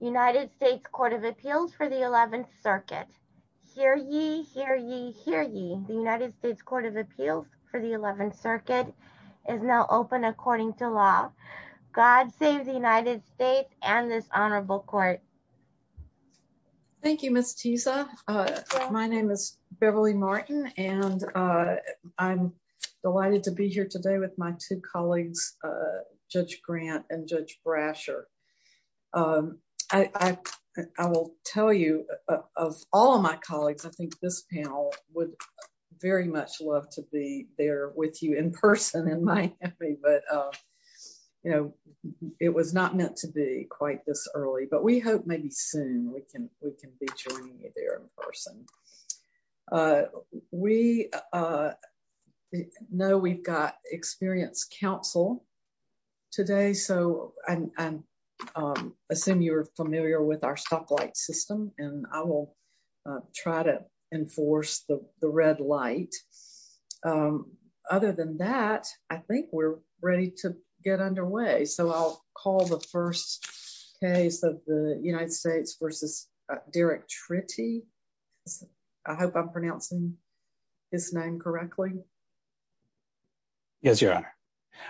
United States Court of Appeals for the 11th Circuit. Hear ye, hear ye, hear ye. The United States Court of Appeals for the 11th Circuit is now open according to law. God save the United States and this honorable court. Thank you, Ms. Tisa. My name is Beverly Martin and I'm delighted to be here today with my two colleagues, Judge Grant and Judge Brasher. I will tell you of all of my colleagues, I think this panel would very much love to be there with you in person in Miami, but you know it was not meant to be quite this early, but we hope maybe soon we can we can be joining you there in person. We know we've got experienced counsel today, so I assume you're familiar with our stoplight system and I will try to enforce the red light. Other than that, I think we're ready to get underway, so I'll call the first case of the United States v. Derrick Trittie. I hope I'm pronouncing his name correctly. Yes, your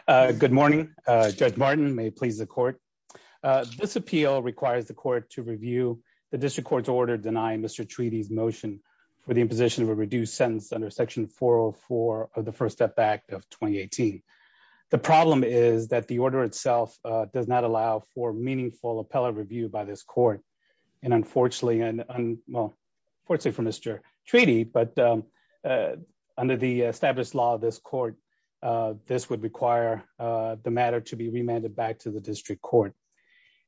honor. Good morning. Judge Martin, may it please the court. This appeal requires the court to review the district court's order denying Mr. Trittie's motion for the imposition of a reduced sentence under section 404 of the First Step Act of 2018. The problem is that the order itself does not allow for meaningful appellate review by this court and unfortunately, well unfortunately for Mr. Trittie, but under the established law of this court, this would require the matter to be remanded back to the district court.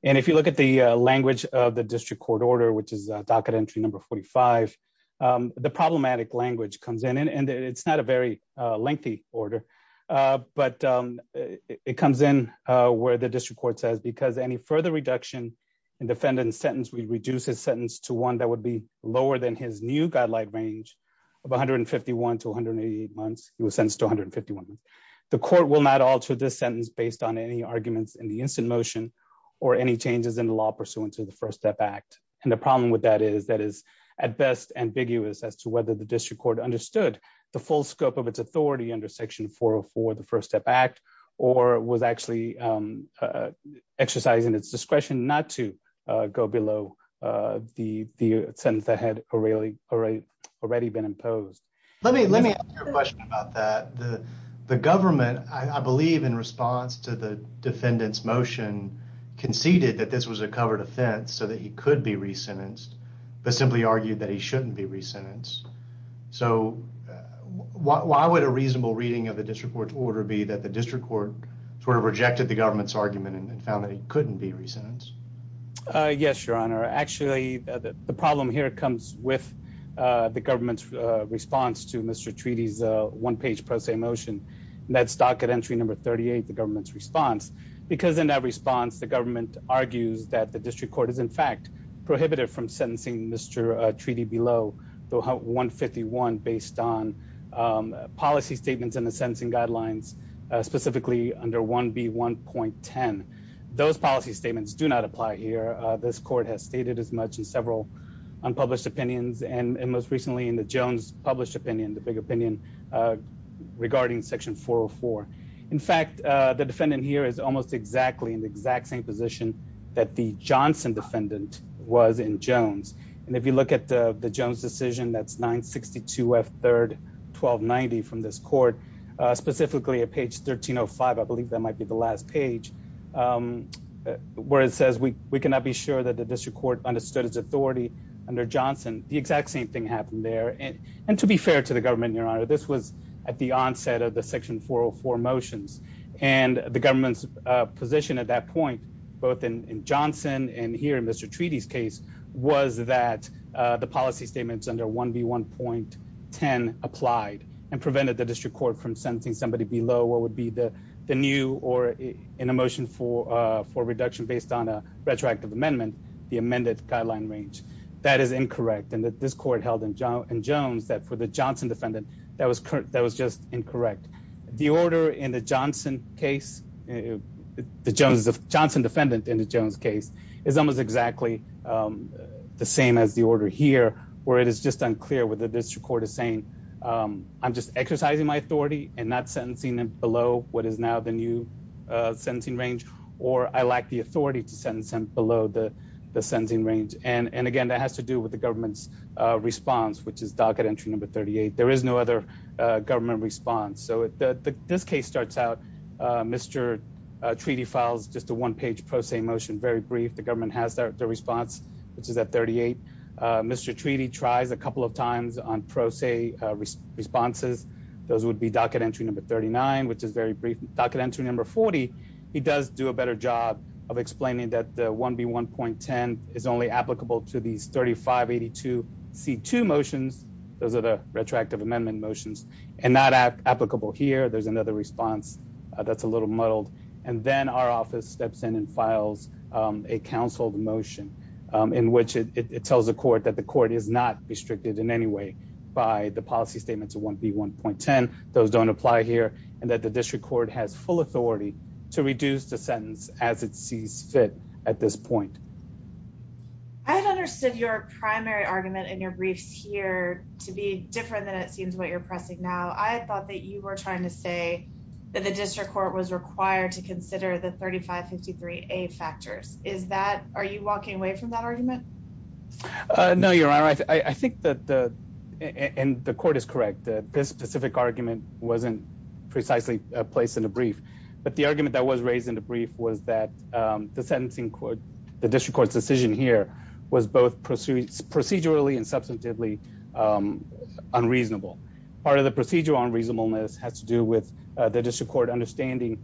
And if you look at the language of the district court order, which is docket entry number 45, the problematic language comes in and it's not a very lengthy order, but it comes in where the district court says because any further reduction in defendant's sentence will reduce his sentence to one that would be lower than his new guideline range of 151 to 188 months, he was sentenced to 151 months. The court will not alter this sentence based on any arguments in the instant motion or any changes in the law pursuant to the First Step Act. And the problem with that is that is at best ambiguous as to whether the district court understood the full scope of its authority under section 404 of the First Step Act or was actually exercising its discretion not to go below the sentence that had already been imposed. Let me ask you a question about that. The government, I believe in response to the defendant's motion, conceded that this was a covered offense so that he could be re-sentenced, but simply argued that he shouldn't be re-sentenced. So why would a reasonable reading of the district court's order be that the district court sort of rejected the government's argument and found that he couldn't be re-sentenced? Yes, Your Honor. Actually, the problem here comes with the government's response to Mr. Treaty's one-page pro se motion. That's docket entry number 38, the government's response. Because in that response, the government argues that the district court is in fact prohibitive from sentencing Mr. Treaty below 151 based on policy statements and the sentencing guidelines, specifically under 1B1.10. Those policy statements do not apply here. This court has stated as much in several unpublished opinions and most recently in the Jones published opinion, the big opinion regarding section 404. In fact, the defendant here is almost exactly in the exact same position that the Johnson defendant was in Jones. And if you look at the Jones decision, that's 962 F 3rd 1290 from this court, specifically at page 1305. I believe that might be the last page where it says we cannot be sure that the district court understood its authority under Johnson. The exact same thing happened there. And to be fair to the government, Your Honor, this was at the onset of the section 404 motions and the government's at that point, both in Johnson and here in Mr. Treaty's case was that the policy statements under 1B1.10 applied and prevented the district court from sentencing somebody below what would be the new or in a motion for for reduction based on a retroactive amendment. The amended guideline range that is incorrect. And that this court held in John and Jones that for the Johnson defendant that was that was just incorrect. The order in the Johnson case, the Jones of Johnson defendant in the Jones case is almost exactly the same as the order here, where it is just unclear whether this record is saying I'm just exercising my authority and not sentencing below what is now the new sentencing range, or I lack the authority to send sent below the the sending range. And again, that has to do with the government's response, which is docket entry number 38. There is no other government response. So this case starts out Mr. Treaty files just a one page pro se motion. Very brief. The government has their response, which is at 38. Mr. Treaty tries a couple of times on pro se responses. Those would be docket entry number 39, which is very brief docket entry number 40. He does do a better job of explaining that the 1B1.10 is only applicable to these 3582 C2 motions. Those are the retroactive amendment motions and not applicable here. There's another response that's a little muddled. And then our office steps in and files a counseled motion in which it tells the court that the court is not restricted in any way by the policy statement to 1B1.10. Those don't apply here and that the district court has full authority to reduce the sentence as it sees fit at this point. I've understood your primary argument in your briefs here to be different than it seems what you're pressing now. I thought that you were trying to say that the district court was required to consider the 3553 A factors. Is that are you walking away from that argument? No, you're right. I think that the and the court is correct that this specific argument wasn't precisely placed in a brief. But the argument that was raised in the brief was that the sentencing the district court's decision here was both procedurally and substantively unreasonable. Part of the procedural unreasonableness has to do with the district court understanding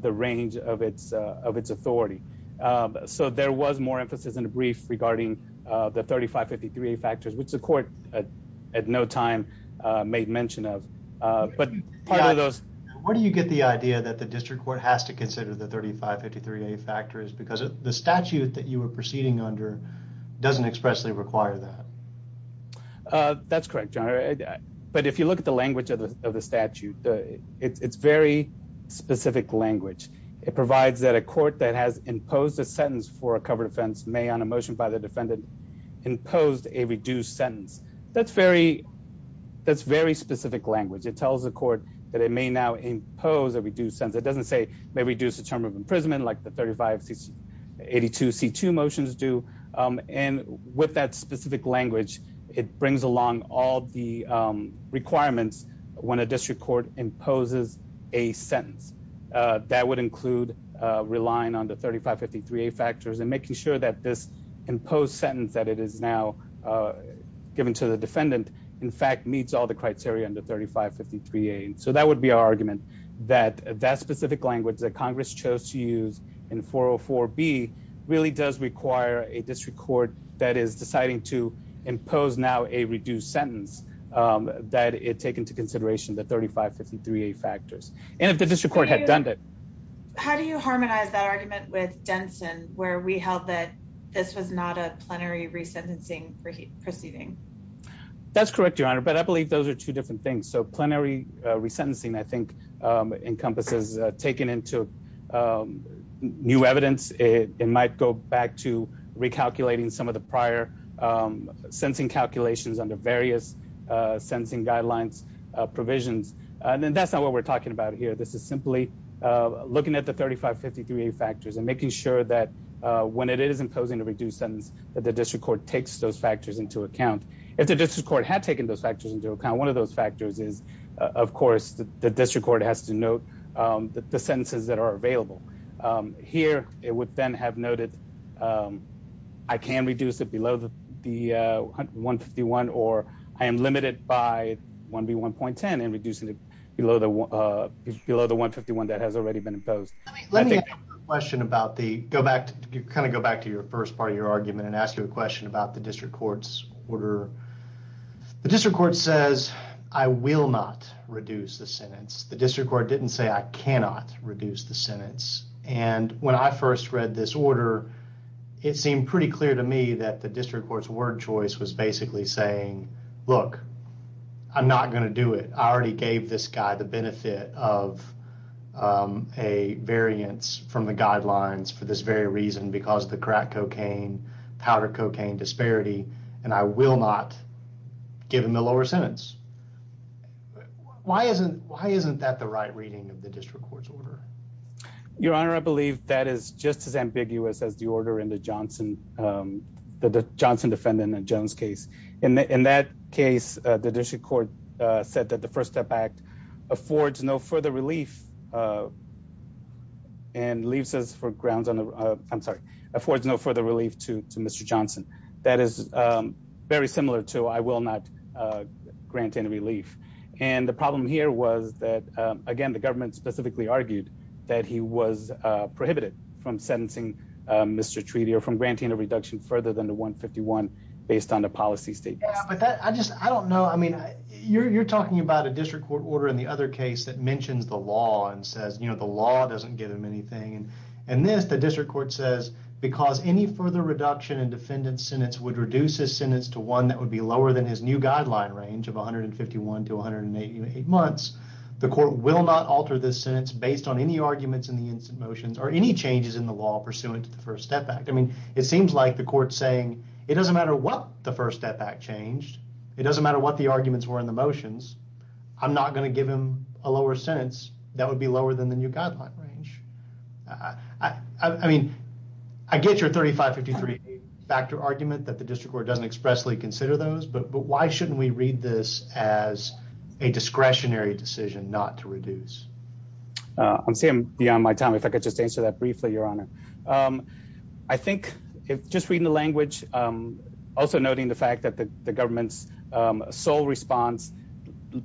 the range of its authority. So there was more emphasis in the brief regarding the 3553 A factors, which the court at no time made mention of. But part of those... Where do you get the idea that the district court has to consider the 3553 A factors? Because the statute that you were proceeding under doesn't expressly require that. That's correct, John. But if you look at the language of the statute, it's very specific language. It provides that a court that has imposed a sentence for a covered offense, may on a motion by the defendant, imposed a reduced sentence. That's very, that's very specific language. It tells the court that it may now impose a reduced sentence. It doesn't say may reduce the term of imprisonment like the 3582 C2 motions do. And with that specific language, it brings along all the requirements when a district court imposes a sentence. That would include relying on the 3553 A factors and making sure that this imposed sentence that it is now given to the defendant, in fact, meets all the criteria under 3553 A. So that would be our argument that that specific language that Congress chose to use in 404 B really does require a district court that is deciding to impose now a reduced sentence that it take into consideration the 3553 A factors. And if the district court had done it. How do you harmonize that argument with Denson, where we held that this was not a plenary resentencing proceeding? That's correct, Your Honor. But I believe those are two different things. So plenary resentencing, I think, encompasses taken into new evidence. It might go back to recalculating some of the prior sensing calculations under various sensing guidelines provisions. And that's not what we're talking about here. This is simply looking at the 3553 A factors and making sure that when it is imposing a reduced sentence that the district court takes those factors into account. If the district court had taken those factors into account, one of those factors is, of course, the district court has to note the sentences that are available here. It would then have noted, um, I can reduce it below the 1 51 or I am limited by one B 1.10 and reducing it below the below the 1 51 that has already been asked you a question about the district court's order. The district court says I will not reduce the sentence. The district court didn't say I cannot reduce the sentence. And when I first read this order, it seemed pretty clear to me that the district court's word choice was basically saying, Look, I'm not going to do it. I already gave this guy the benefit of, um, a variance from the guidelines for this very reason, because the crack cocaine, powder cocaine disparity, and I will not give him the lower sentence. Why isn't? Why isn't that the right reading of the district court's order? Your Honor, I believe that is just as ambiguous as the order in the Johnson, the Johnson defendant and Jones case. In that case, the district court said that the First Step Act affords no further relief, uh, and leaves us for grounds on the I'm sorry, affords no further relief to Mr Johnson. That is very similar to I will not grant any relief. And the problem here was that again, the government specifically argued that he was prohibited from sentencing Mr Treaty or from granting a reduction further than the 1 51 based on the policy statement. I just I don't know. I mean, you're talking about a district court order in the other case that mentions the law and says, you know, the law doesn't give him anything. And this the district court says, because any further reduction in defendant's sentence would reduce his sentence to one that would be lower than his new guideline range of 151 to 188 months. The court will not alter this sentence based on any arguments in the instant motions or any changes in the law pursuant to the First Step Act. I mean, it seems like the court saying it doesn't matter what the First Step Act changed. It doesn't matter what the arguments were in the motions. I'm not gonna give him a lower sentence. That would be lower than the new guideline range. I mean, I get your 35 53 factor argument that the district court doesn't expressly consider those. But why shouldn't we read this as a discretionary decision not to reduce? I'm saying beyond my time. If I could just answer that briefly, Your Honor, um, I think just reading the language, um, also noting the fact that the government's sole response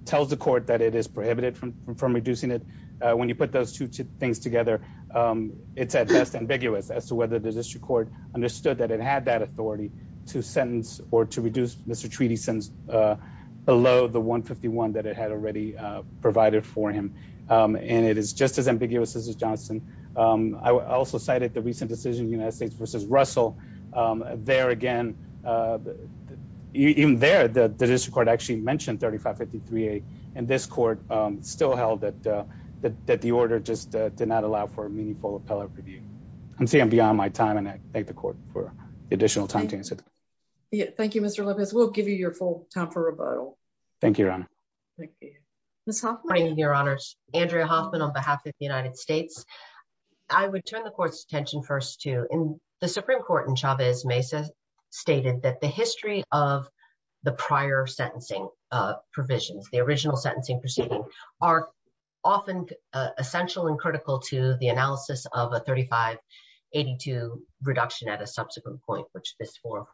tells the court that it is prohibited from reducing it. When you put those two things together, um, it's at best ambiguous as to whether the district court understood that it had that authority to sentence or to reduce Mr Treaty since, uh, below the 151 that it had already provided for him. Um, and it is just as ambiguous as Johnson. Um, I also cited the recent decision United States versus Russell there again. Uh, even there, the district court actually mentioned 35 53 and this court still held that that the order just did not allow for a meaningful appellate review. I'm saying beyond my time, and I thank the court for additional time to answer. Thank you, Mr Lopez. We'll give you your full time for rebuttal. Thank you, Your Honor. Andrea Hoffman on behalf of the United States. I would turn the court's attention first to in the Supreme Court in Chavez Mesa stated that the history of the prior sentencing provisions, the original sentencing proceeding are often essential and critical to the analysis of a 35 82 reduction at a subsequent point, which this for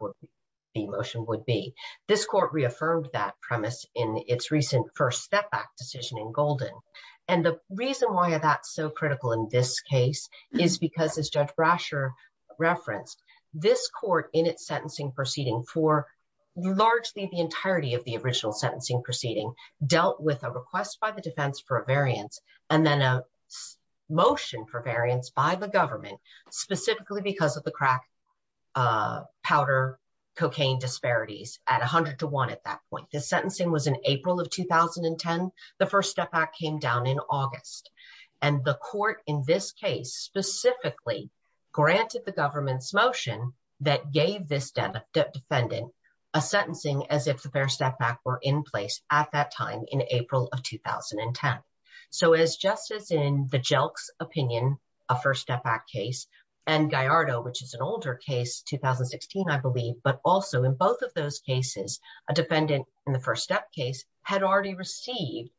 the emotion would be. This court reaffirmed that premise in its recent first step back decision in Golden, and the reason why that's so critical in this case is because, as Judge Brasher referenced, this court in its sentencing proceeding for largely the entirety of the original sentencing proceeding dealt with a request by the defense for a variance and then a motion for variance by the government specifically because of the crack powder cocaine disparities at 100 to one. At that point, the sentencing was in April of 2010. The first step back came down in August, and the court in this case specifically granted the government's motion that gave this death defendant a sentencing as if the first step back were in place at that time in April of 2010. So as just as in the jelks opinion, a first step back case, and guy Ardo, which is an older case 2016, I believe, but also in both of those cases, a defendant in the first step case had already received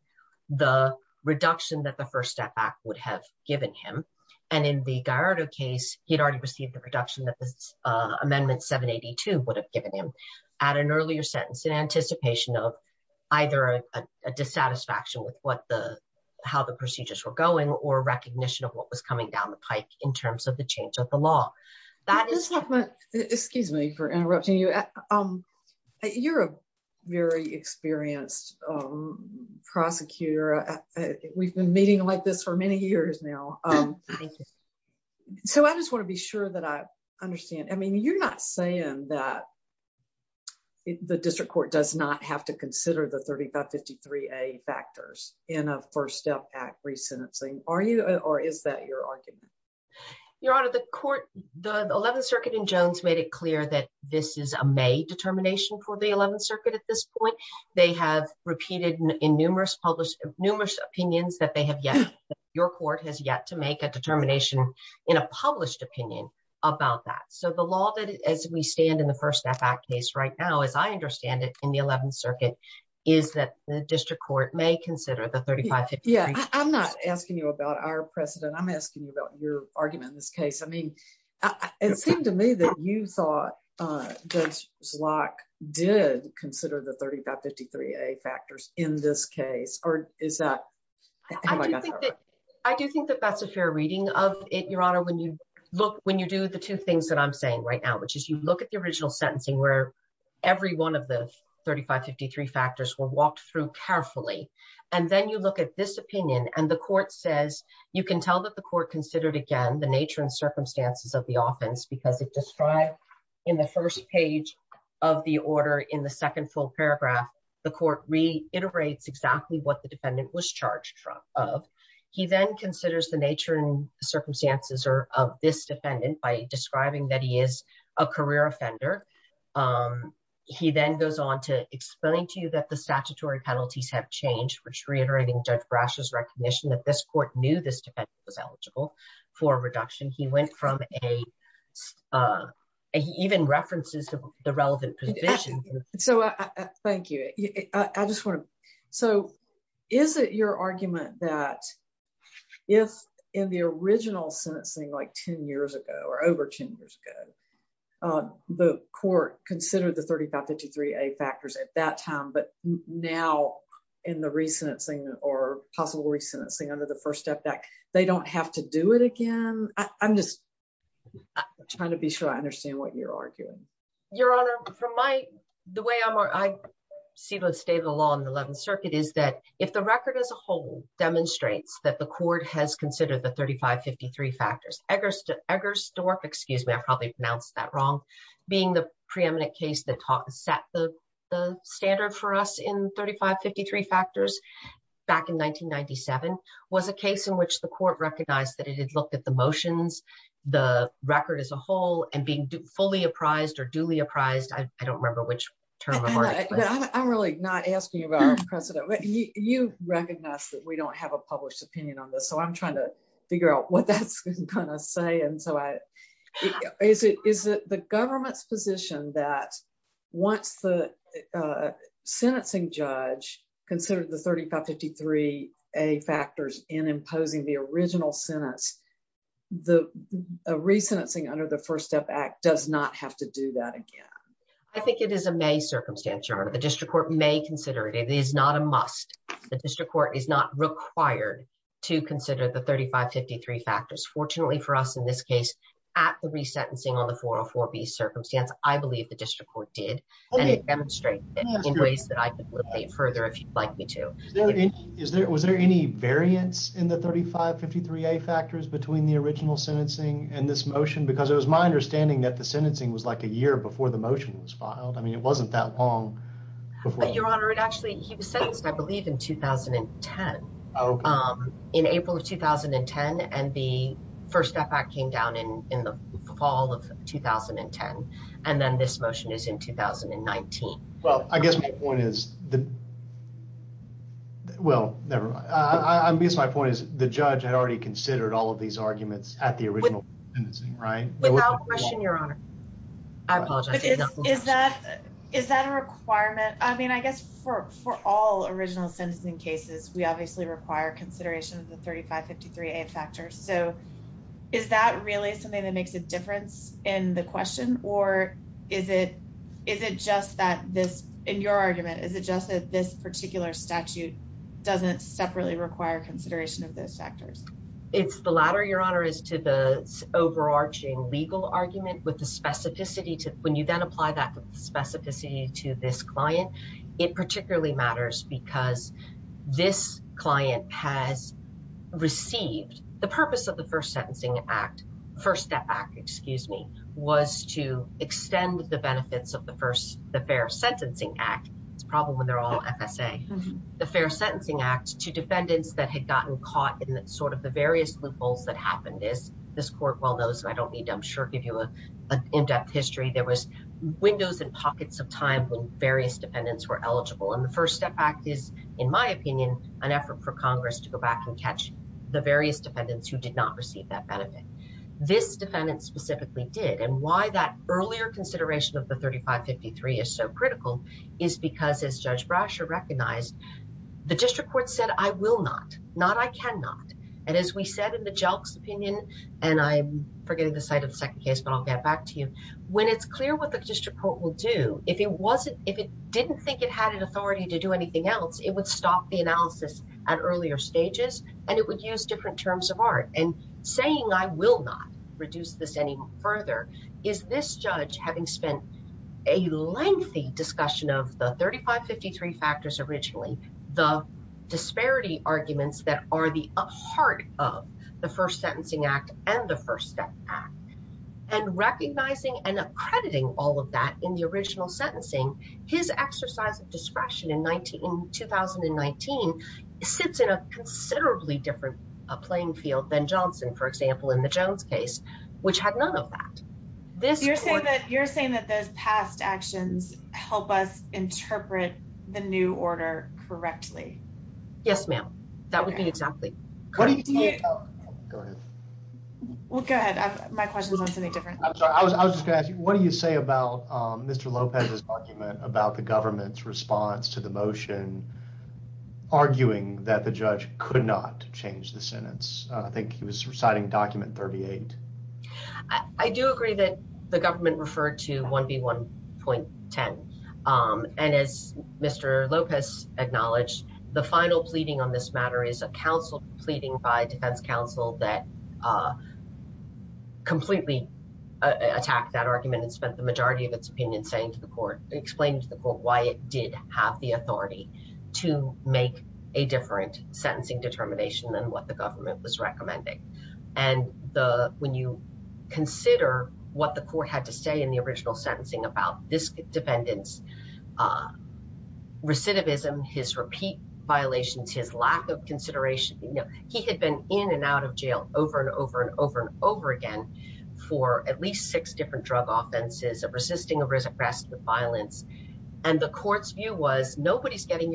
the reduction that the first step back would have given him. And in the guy Ardo case, he'd already received the reduction that this amendment 782 would have given him at an earlier sentence in anticipation of either a dissatisfaction with what the how the procedures were going or recognition of what was coming down the pike in terms of the change of the law. That is not my excuse me for interrupting you. You're a very experienced prosecutor. We've been meeting like this for many years now. So I just want to be sure that I understand. I mean, you're not saying that the district court does not have to consider the 3553 a factors in a first step at resentencing. Are you or is that your argument? Your Honor, the court, the 11th Circuit in Jones made it clear that this is a may determination for the 11th Circuit. At this point, they have repeated in numerous published numerous opinions that they have yet your court has yet to make a determination in a published opinion about that. So the law that as we stand in the first step back case right now, as I understand it in the 11th is that the district court may consider the 3550. Yeah, I'm not asking you about our precedent. I'm asking you about your argument in this case. I mean, it seemed to me that you thought just like did consider the 3553 a factors in this case, or is that I do think that that's a fair reading of it, Your Honor, when you look when you do the two things that I'm saying right now, which is you look at the original sentencing where every one of the 3553 factors were walked through carefully. And then you look at this opinion and the court says you can tell that the court considered again the nature and circumstances of the offense because it described in the first page of the order in the second full paragraph, the court reiterates exactly what the defendant was charged from of he then considers the nature and circumstances or of this defendant by describing that he is a career offender. He then goes on to explain to you that the statutory penalties have changed which reiterating judge brushes recognition that this court knew this defense was eligible for reduction he went from a even references to the relevant position. So, thank you. I just want to. So, is it your argument that if in the original sentencing like 10 years ago or over 10 years ago, the court considered the 3553 a factors at that time but now in the recent thing or possible recent thing under the first step back, they don't have to do it again. I'm just trying to be sure I understand what you're arguing, Your Honor, from my, the way I see the state of the law in the 11th circuit is that if the record as a whole that the court has considered the 3553 factors, Eggersdorf, excuse me, I probably pronounced that wrong, being the preeminent case that set the standard for us in 3553 factors back in 1997 was a case in which the court recognized that it had looked at the motions, the record as a whole and being fully apprised or duly apprised. I don't remember which term. I'm really not asking about precedent, but you recognize that we don't have a published opinion on this. So, I'm trying to figure out what that's going to say. And so, is it the government's position that once the sentencing judge considered the 3553 a factors in imposing the original sentence, the recent thing under the first step act does not have to do that again. I think it is a may circumstance, Your Honor. The district court may consider it. It is not a must. The district court is not required to consider the 3553 factors. Fortunately for us in this case at the re-sentencing on the 404B circumstance, I believe the district court did and it demonstrated it in ways that I could look at further if you'd like me to. Is there, was there any variance in the 3553 a factors between the original sentencing and this motion? Because it was my understanding that the sentencing was like a year before the motion was filed. I mean, it wasn't that long before. Your Honor, it actually, he was sentenced, I believe in 2010, in April of 2010. And the first step act came down in the fall of 2010. And then this motion is in 2019. Well, I guess my point is the, well, nevermind. I guess my point is the judge had already considered all of these without question, Your Honor. I apologize. Is that, is that a requirement? I mean, I guess for, for all original sentencing cases, we obviously require consideration of the 3553A factors. So is that really something that makes a difference in the question? Or is it, is it just that this, in your argument, is it just that this particular statute doesn't separately require consideration of those factors? It's the latter, Your Honor, is to the overarching legal argument with the specificity to, when you then apply that specificity to this client, it particularly matters because this client has received, the purpose of the first sentencing act, first step act, excuse me, was to extend the benefits of the first, the fair sentencing act. It's a problem when they're all FSA. The fair sentencing act to defendants that had gotten caught in sort of the various loopholes that happened is, this court well knows, and I don't need to, I'm sure, give you a in-depth history. There was windows and pockets of time when various defendants were eligible. And the first step act is, in my opinion, an effort for Congress to go back and catch the various defendants who did not receive that benefit. This defendant specifically did. And why that recognized, the district court said, I will not, not I cannot. And as we said in the Jelks opinion, and I'm forgetting the site of the second case, but I'll get back to you. When it's clear what the district court will do, if it wasn't, if it didn't think it had an authority to do anything else, it would stop the analysis at earlier stages and it would use different terms of art. And saying, I will not reduce this any further, is this judge having spent a lengthy discussion of the 3553 factors originally, the disparity arguments that are the heart of the first sentencing act and the first step act. And recognizing and accrediting all of that in the original sentencing, his exercise of discretion in 2019 sits in a considerably different playing field than Johnson, for example, in the Jones case, which had none of that. You're saying that those past actions help us interpret the new order correctly? Yes, ma'am. That would be exactly. Well, go ahead. My question is on something different. I was just gonna ask you, what do you say about Mr. Lopez's argument about the government's response to the motion arguing that the judge could not change the sentence? I think he was reciting document 38. I do agree that the government referred to 1B1.10. And as Mr. Lopez acknowledged, the final pleading on this matter is a counsel pleading by defense counsel that completely attacked that argument and spent the majority of its opinion saying to the court, explained to the court why it did have the authority to make a different sentencing determination than what the government was recommending. And when you consider what the court had to say in the original sentencing about this defendant's recidivism, his repeat violations, his lack of consideration, he had been in and out of jail over and over and over and over again for at least six different drug offenses of resisting arrest with violence. And the court's view was nobody's getting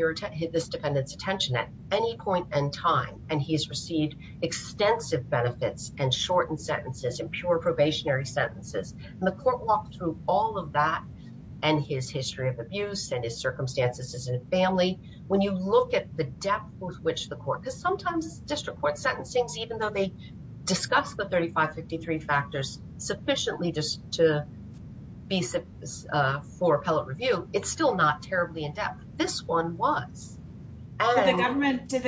this defendant's attention at any point in time. And he's received extensive benefits and shortened sentences and pure probationary sentences. And the court walked through all of that and his history of abuse and his circumstances as a family. When you look at the depth with which the court, because sometimes district court sentencings, they discuss the 3553 factors sufficiently just to be for appellate review. It's still not terribly in depth. This one was. Did the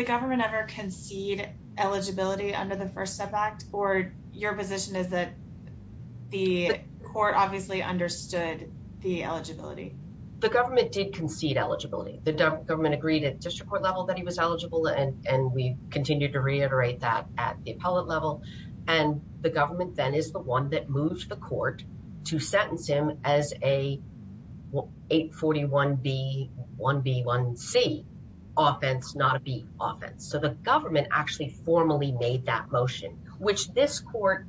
government ever concede eligibility under the First Step Act or your position is that the court obviously understood the eligibility? The government did concede eligibility. The government agreed at district court level that he was eligible, and we continued to reiterate that at the appellate level. And the government then is the one that moved the court to sentence him as a 841B1B1C offense, not a B offense. So the government actually formally made that motion, which this court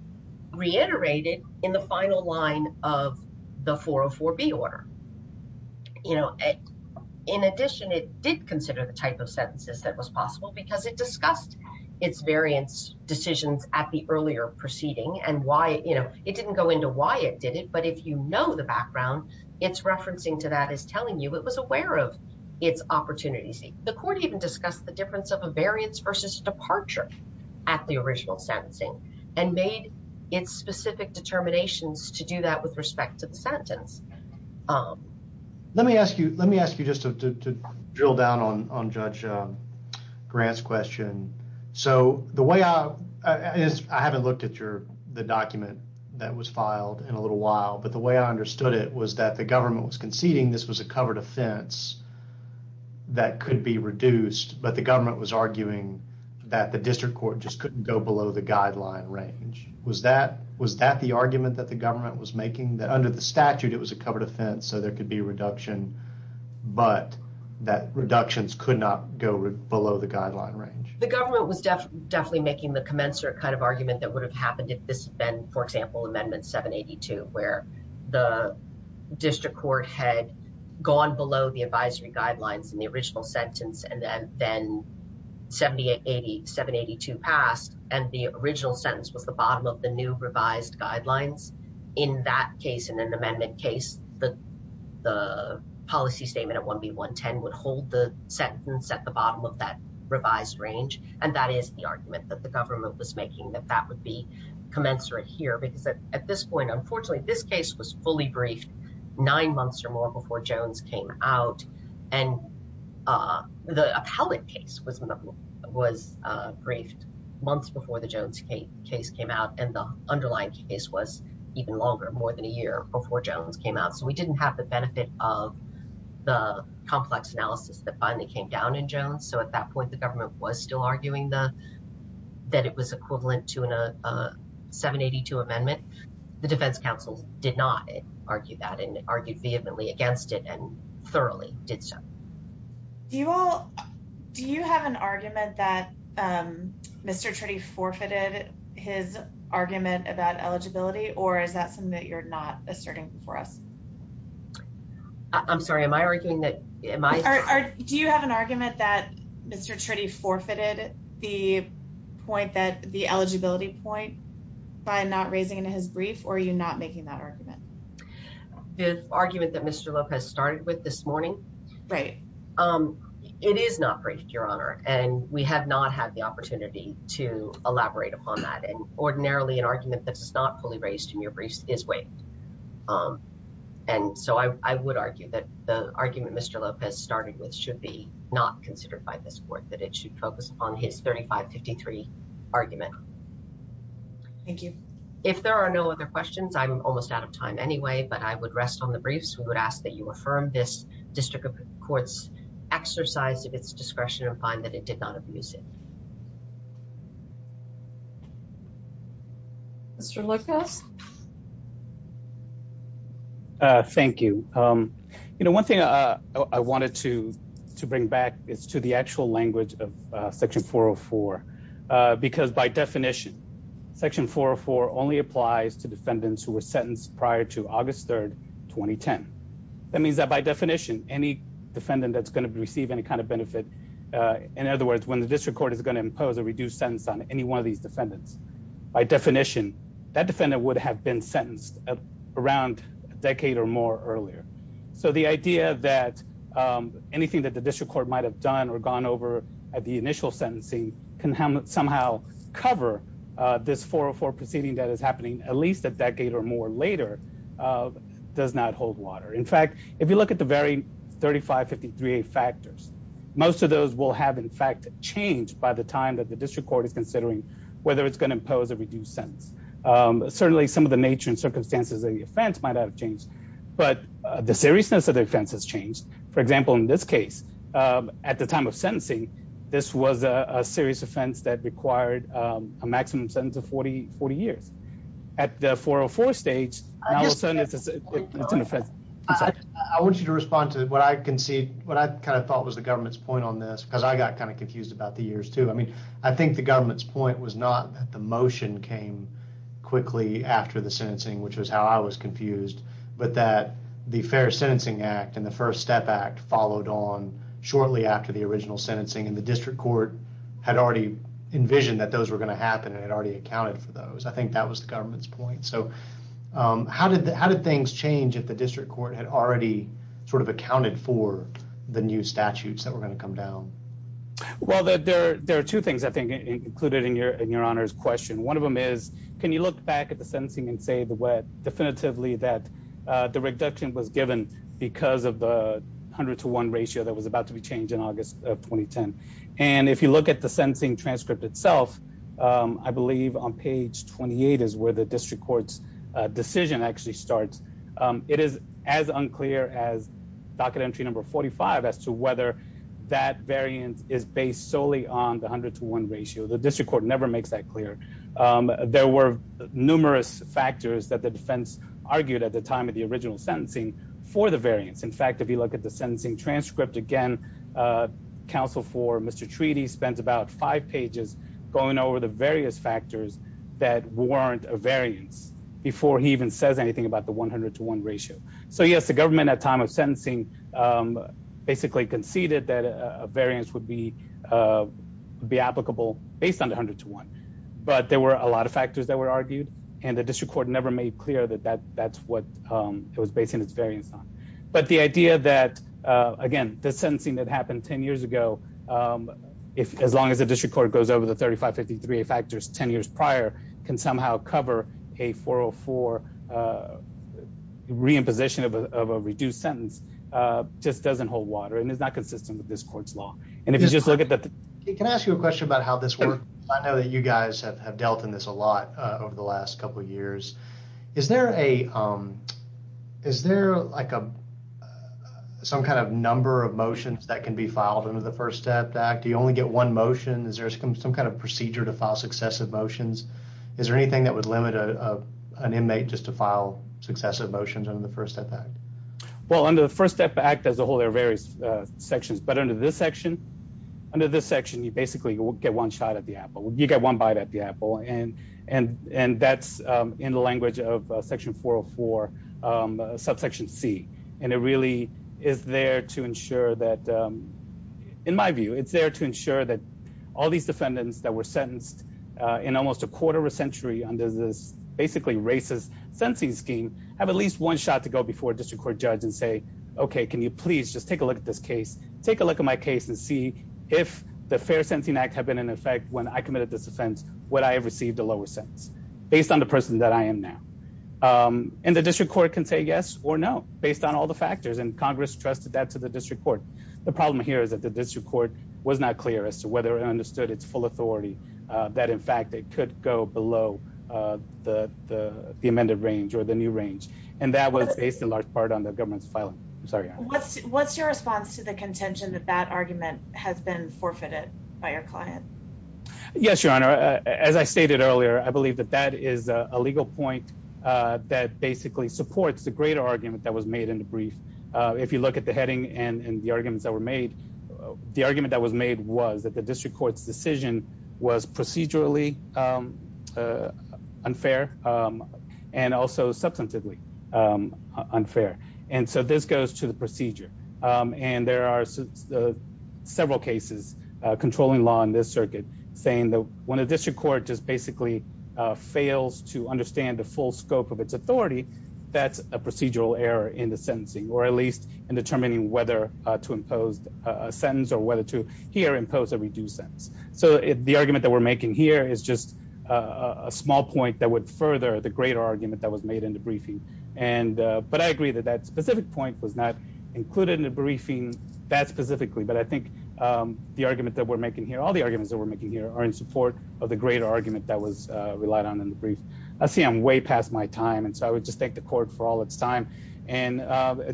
reiterated in the final line of the 404B order. You know, in addition, it did consider the type of sentences that was possible because it discussed its variance decisions at the earlier proceeding and why it didn't go into why it did it. But if you know the background, it's referencing to that is telling you it was aware of its opportunities. The court even discussed the difference of a variance versus departure at the original sentencing and made its specific determinations to do that with respect to the Let me ask you. Let me ask you just to drill down on Judge Grant's question. So the way I haven't looked at the document that was filed in a little while, but the way I understood it was that the government was conceding this was a covered offense that could be reduced, but the government was arguing that the district court just couldn't go below the guideline range. Was that the argument that the government was making that under the statute it was a covered offense, so there could be a reduction, but that reductions could not go below the guideline range? The government was definitely making the commensurate kind of argument that would have happened if this had been, for example, Amendment 782, where the district court had gone below the advisory guidelines in the original sentence and then 782 passed, and the original sentence was the bottom of the new revised guidelines. In that case, in an amendment case, the policy statement at 1B110 would hold the sentence at the bottom of that revised range, and that is the argument that the government was making that that would be commensurate here, because at this point, unfortunately, this case was fully briefed nine months or more before Jones came out, and the appellate case was briefed months before the Jones case came out, and the underlying case was even longer, more than a year before Jones came out, so we didn't have the benefit of the complex analysis that finally came down in Jones, so at that point, the government was still arguing that it was equivalent to a 782 amendment. The defense counsel did not argue that and argued vehemently against it and Do you all, do you have an argument that Mr. Tritty forfeited his argument about eligibility, or is that something that you're not asserting before us? I'm sorry, am I arguing that, am I? Do you have an argument that Mr. Tritty forfeited the point that the eligibility point by not raising in his brief, or are you not making that argument? The argument that Mr. Lopez started with this It is not briefed, Your Honor, and we have not had the opportunity to elaborate upon that, and ordinarily, an argument that is not fully raised in your briefs is waived, and so I would argue that the argument Mr. Lopez started with should be not considered by this court, that it should focus upon his 3553 argument. Thank you. If there are no other questions, I'm almost out of time exercise of its discretion and find that it did not abuse it. Mr. Lopez. Thank you. You know, one thing I wanted to bring back is to the actual language of Section 404, because by definition, Section 404 only applies to defendants who were sentenced prior to August 3, 2010. That means that by definition, any defendant that's going to receive any kind of benefit, in other words, when the district court is going to impose a reduced sentence on any one of these defendants, by definition, that defendant would have been sentenced around a decade or more earlier. So the idea that anything that the district court might have done or gone over at the initial sentencing can somehow cover this 404 proceeding that is happening at least a does not hold water. In fact, if you look at the very 3553 factors, most of those will have, in fact, changed by the time that the district court is considering whether it's going to impose a reduced sentence. Certainly some of the nature and circumstances of the offense might have changed, but the seriousness of the offense has changed. For example, in this case, at the time of sentencing, this was a serious offense that required a maximum sentence of 40 years. At the 404 stage, it's an offense. I want you to respond to what I concede, what I kind of thought was the government's point on this, because I got kind of confused about the years too. I mean, I think the government's point was not that the motion came quickly after the sentencing, which was how I was confused, but that the Fair Sentencing Act and the First Step Act followed on shortly after the original sentencing, and the district court had already envisioned that those were going to happen and had already accounted for those. I think that was the government's point. So how did things change if the district court had already sort of accounted for the new statutes that were going to come down? Well, there are two things I think included in your honor's question. One of them is, can you look back at the sentencing and say the way definitively that the reduction was given because of the 100 to 1 ratio that was about to be changed in August of 2010. And if you look at the sentencing transcript itself, I believe on page 28 is where the district court's decision actually starts. It is as unclear as docket entry number 45 as to whether that variance is based solely on the 100 to 1 ratio. The district court never makes that clear. There were numerous factors that the defense argued at the time of the original sentencing for the variance. In fact, if you look at the sentencing transcript again, counsel for Mr. Treaty spent about five pages going over the various factors that weren't a variance before he even says anything about the 100 to 1 ratio. So yes, the government at time of sentencing basically conceded that a variance would be applicable based on the 100 to 1, but there were a lot of factors that were argued and the district court never made clear that that's what it was based in its variance on. But the idea that, again, the sentencing that happened 10 years ago, if as long as the district court goes over the 3553 factors 10 years prior, can somehow cover a 404 reimposition of a reduced sentence, just doesn't hold water and is not consistent with this court's law. And if you just look at that, can I ask you a question about how this works? I know that you guys have dealt in this a lot over the last couple of years. Is there a, is there like a, some kind of number of motions that can be filed under the First Step Act? Do you only get one motion? Is there some kind of procedure to file successive motions? Is there anything that would limit an inmate just to file successive motions under the First Step Act? Well, under the First Step Act as a whole, there are various sections, but under this section, under this section, you basically get one shot at the apple. You get one bite at the apple, and that's in the language of Section 404, subsection C. And it really is there to ensure that, in my view, it's there to ensure that all these defendants that were sentenced in almost a quarter of a century under this basically racist sentencing scheme have at least one shot to go before a district court judge and say, okay, can you please just take a look at this case, take a look at my case and see if the Fair Sentencing Act had been in effect when I committed this offense, would I have received a lower sentence based on the person that I am now? And the district court can say yes or no based on all the factors, and Congress trusted that to the district court. The problem here is that the district court was not clear as to whether it understood its full authority that, in fact, it could go below the amended range or the new range, and that was based in large part on the government's filing. I'm sorry. What's your response to the contention that that argument has been forfeited by your client? Yes, Your Honor. As I stated earlier, I believe that that is a legal point that basically supports the greater argument that was made in the brief. If you look at the heading and the arguments that were made, the argument that was made was that the district court's decision was procedurally unfair and also substantively unfair. And so this goes to the procedure, and there are several cases controlling law in this circuit saying that when a district court just basically fails to understand the full scope of its authority, that's a procedural error in the sentencing, or at least in determining whether to impose a sentence or whether to here impose a reduced sentence. So the argument that we're making here is just a small point that would further the greater argument that was made in the briefing. But I agree that that specific point was not included in the briefing that specifically. But I think the argument that we're making here, all the arguments that we're making here are in support of the greater argument that was relied on in the brief. I see I'm way past my time, and so I would just thank the court for all its time. And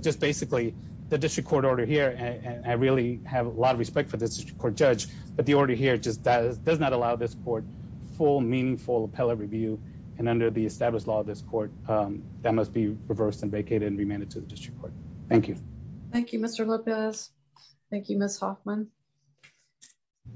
just basically the district court order here, and I really have a lot of respect for this court judge, but the order here just does not allow this court full, meaningful appellate review. And under the established law of this court, that must be reversed and vacated and remanded to the district court. Thank you. Thank you, Mr. Lopez. Thank you, Ms. Hoffman.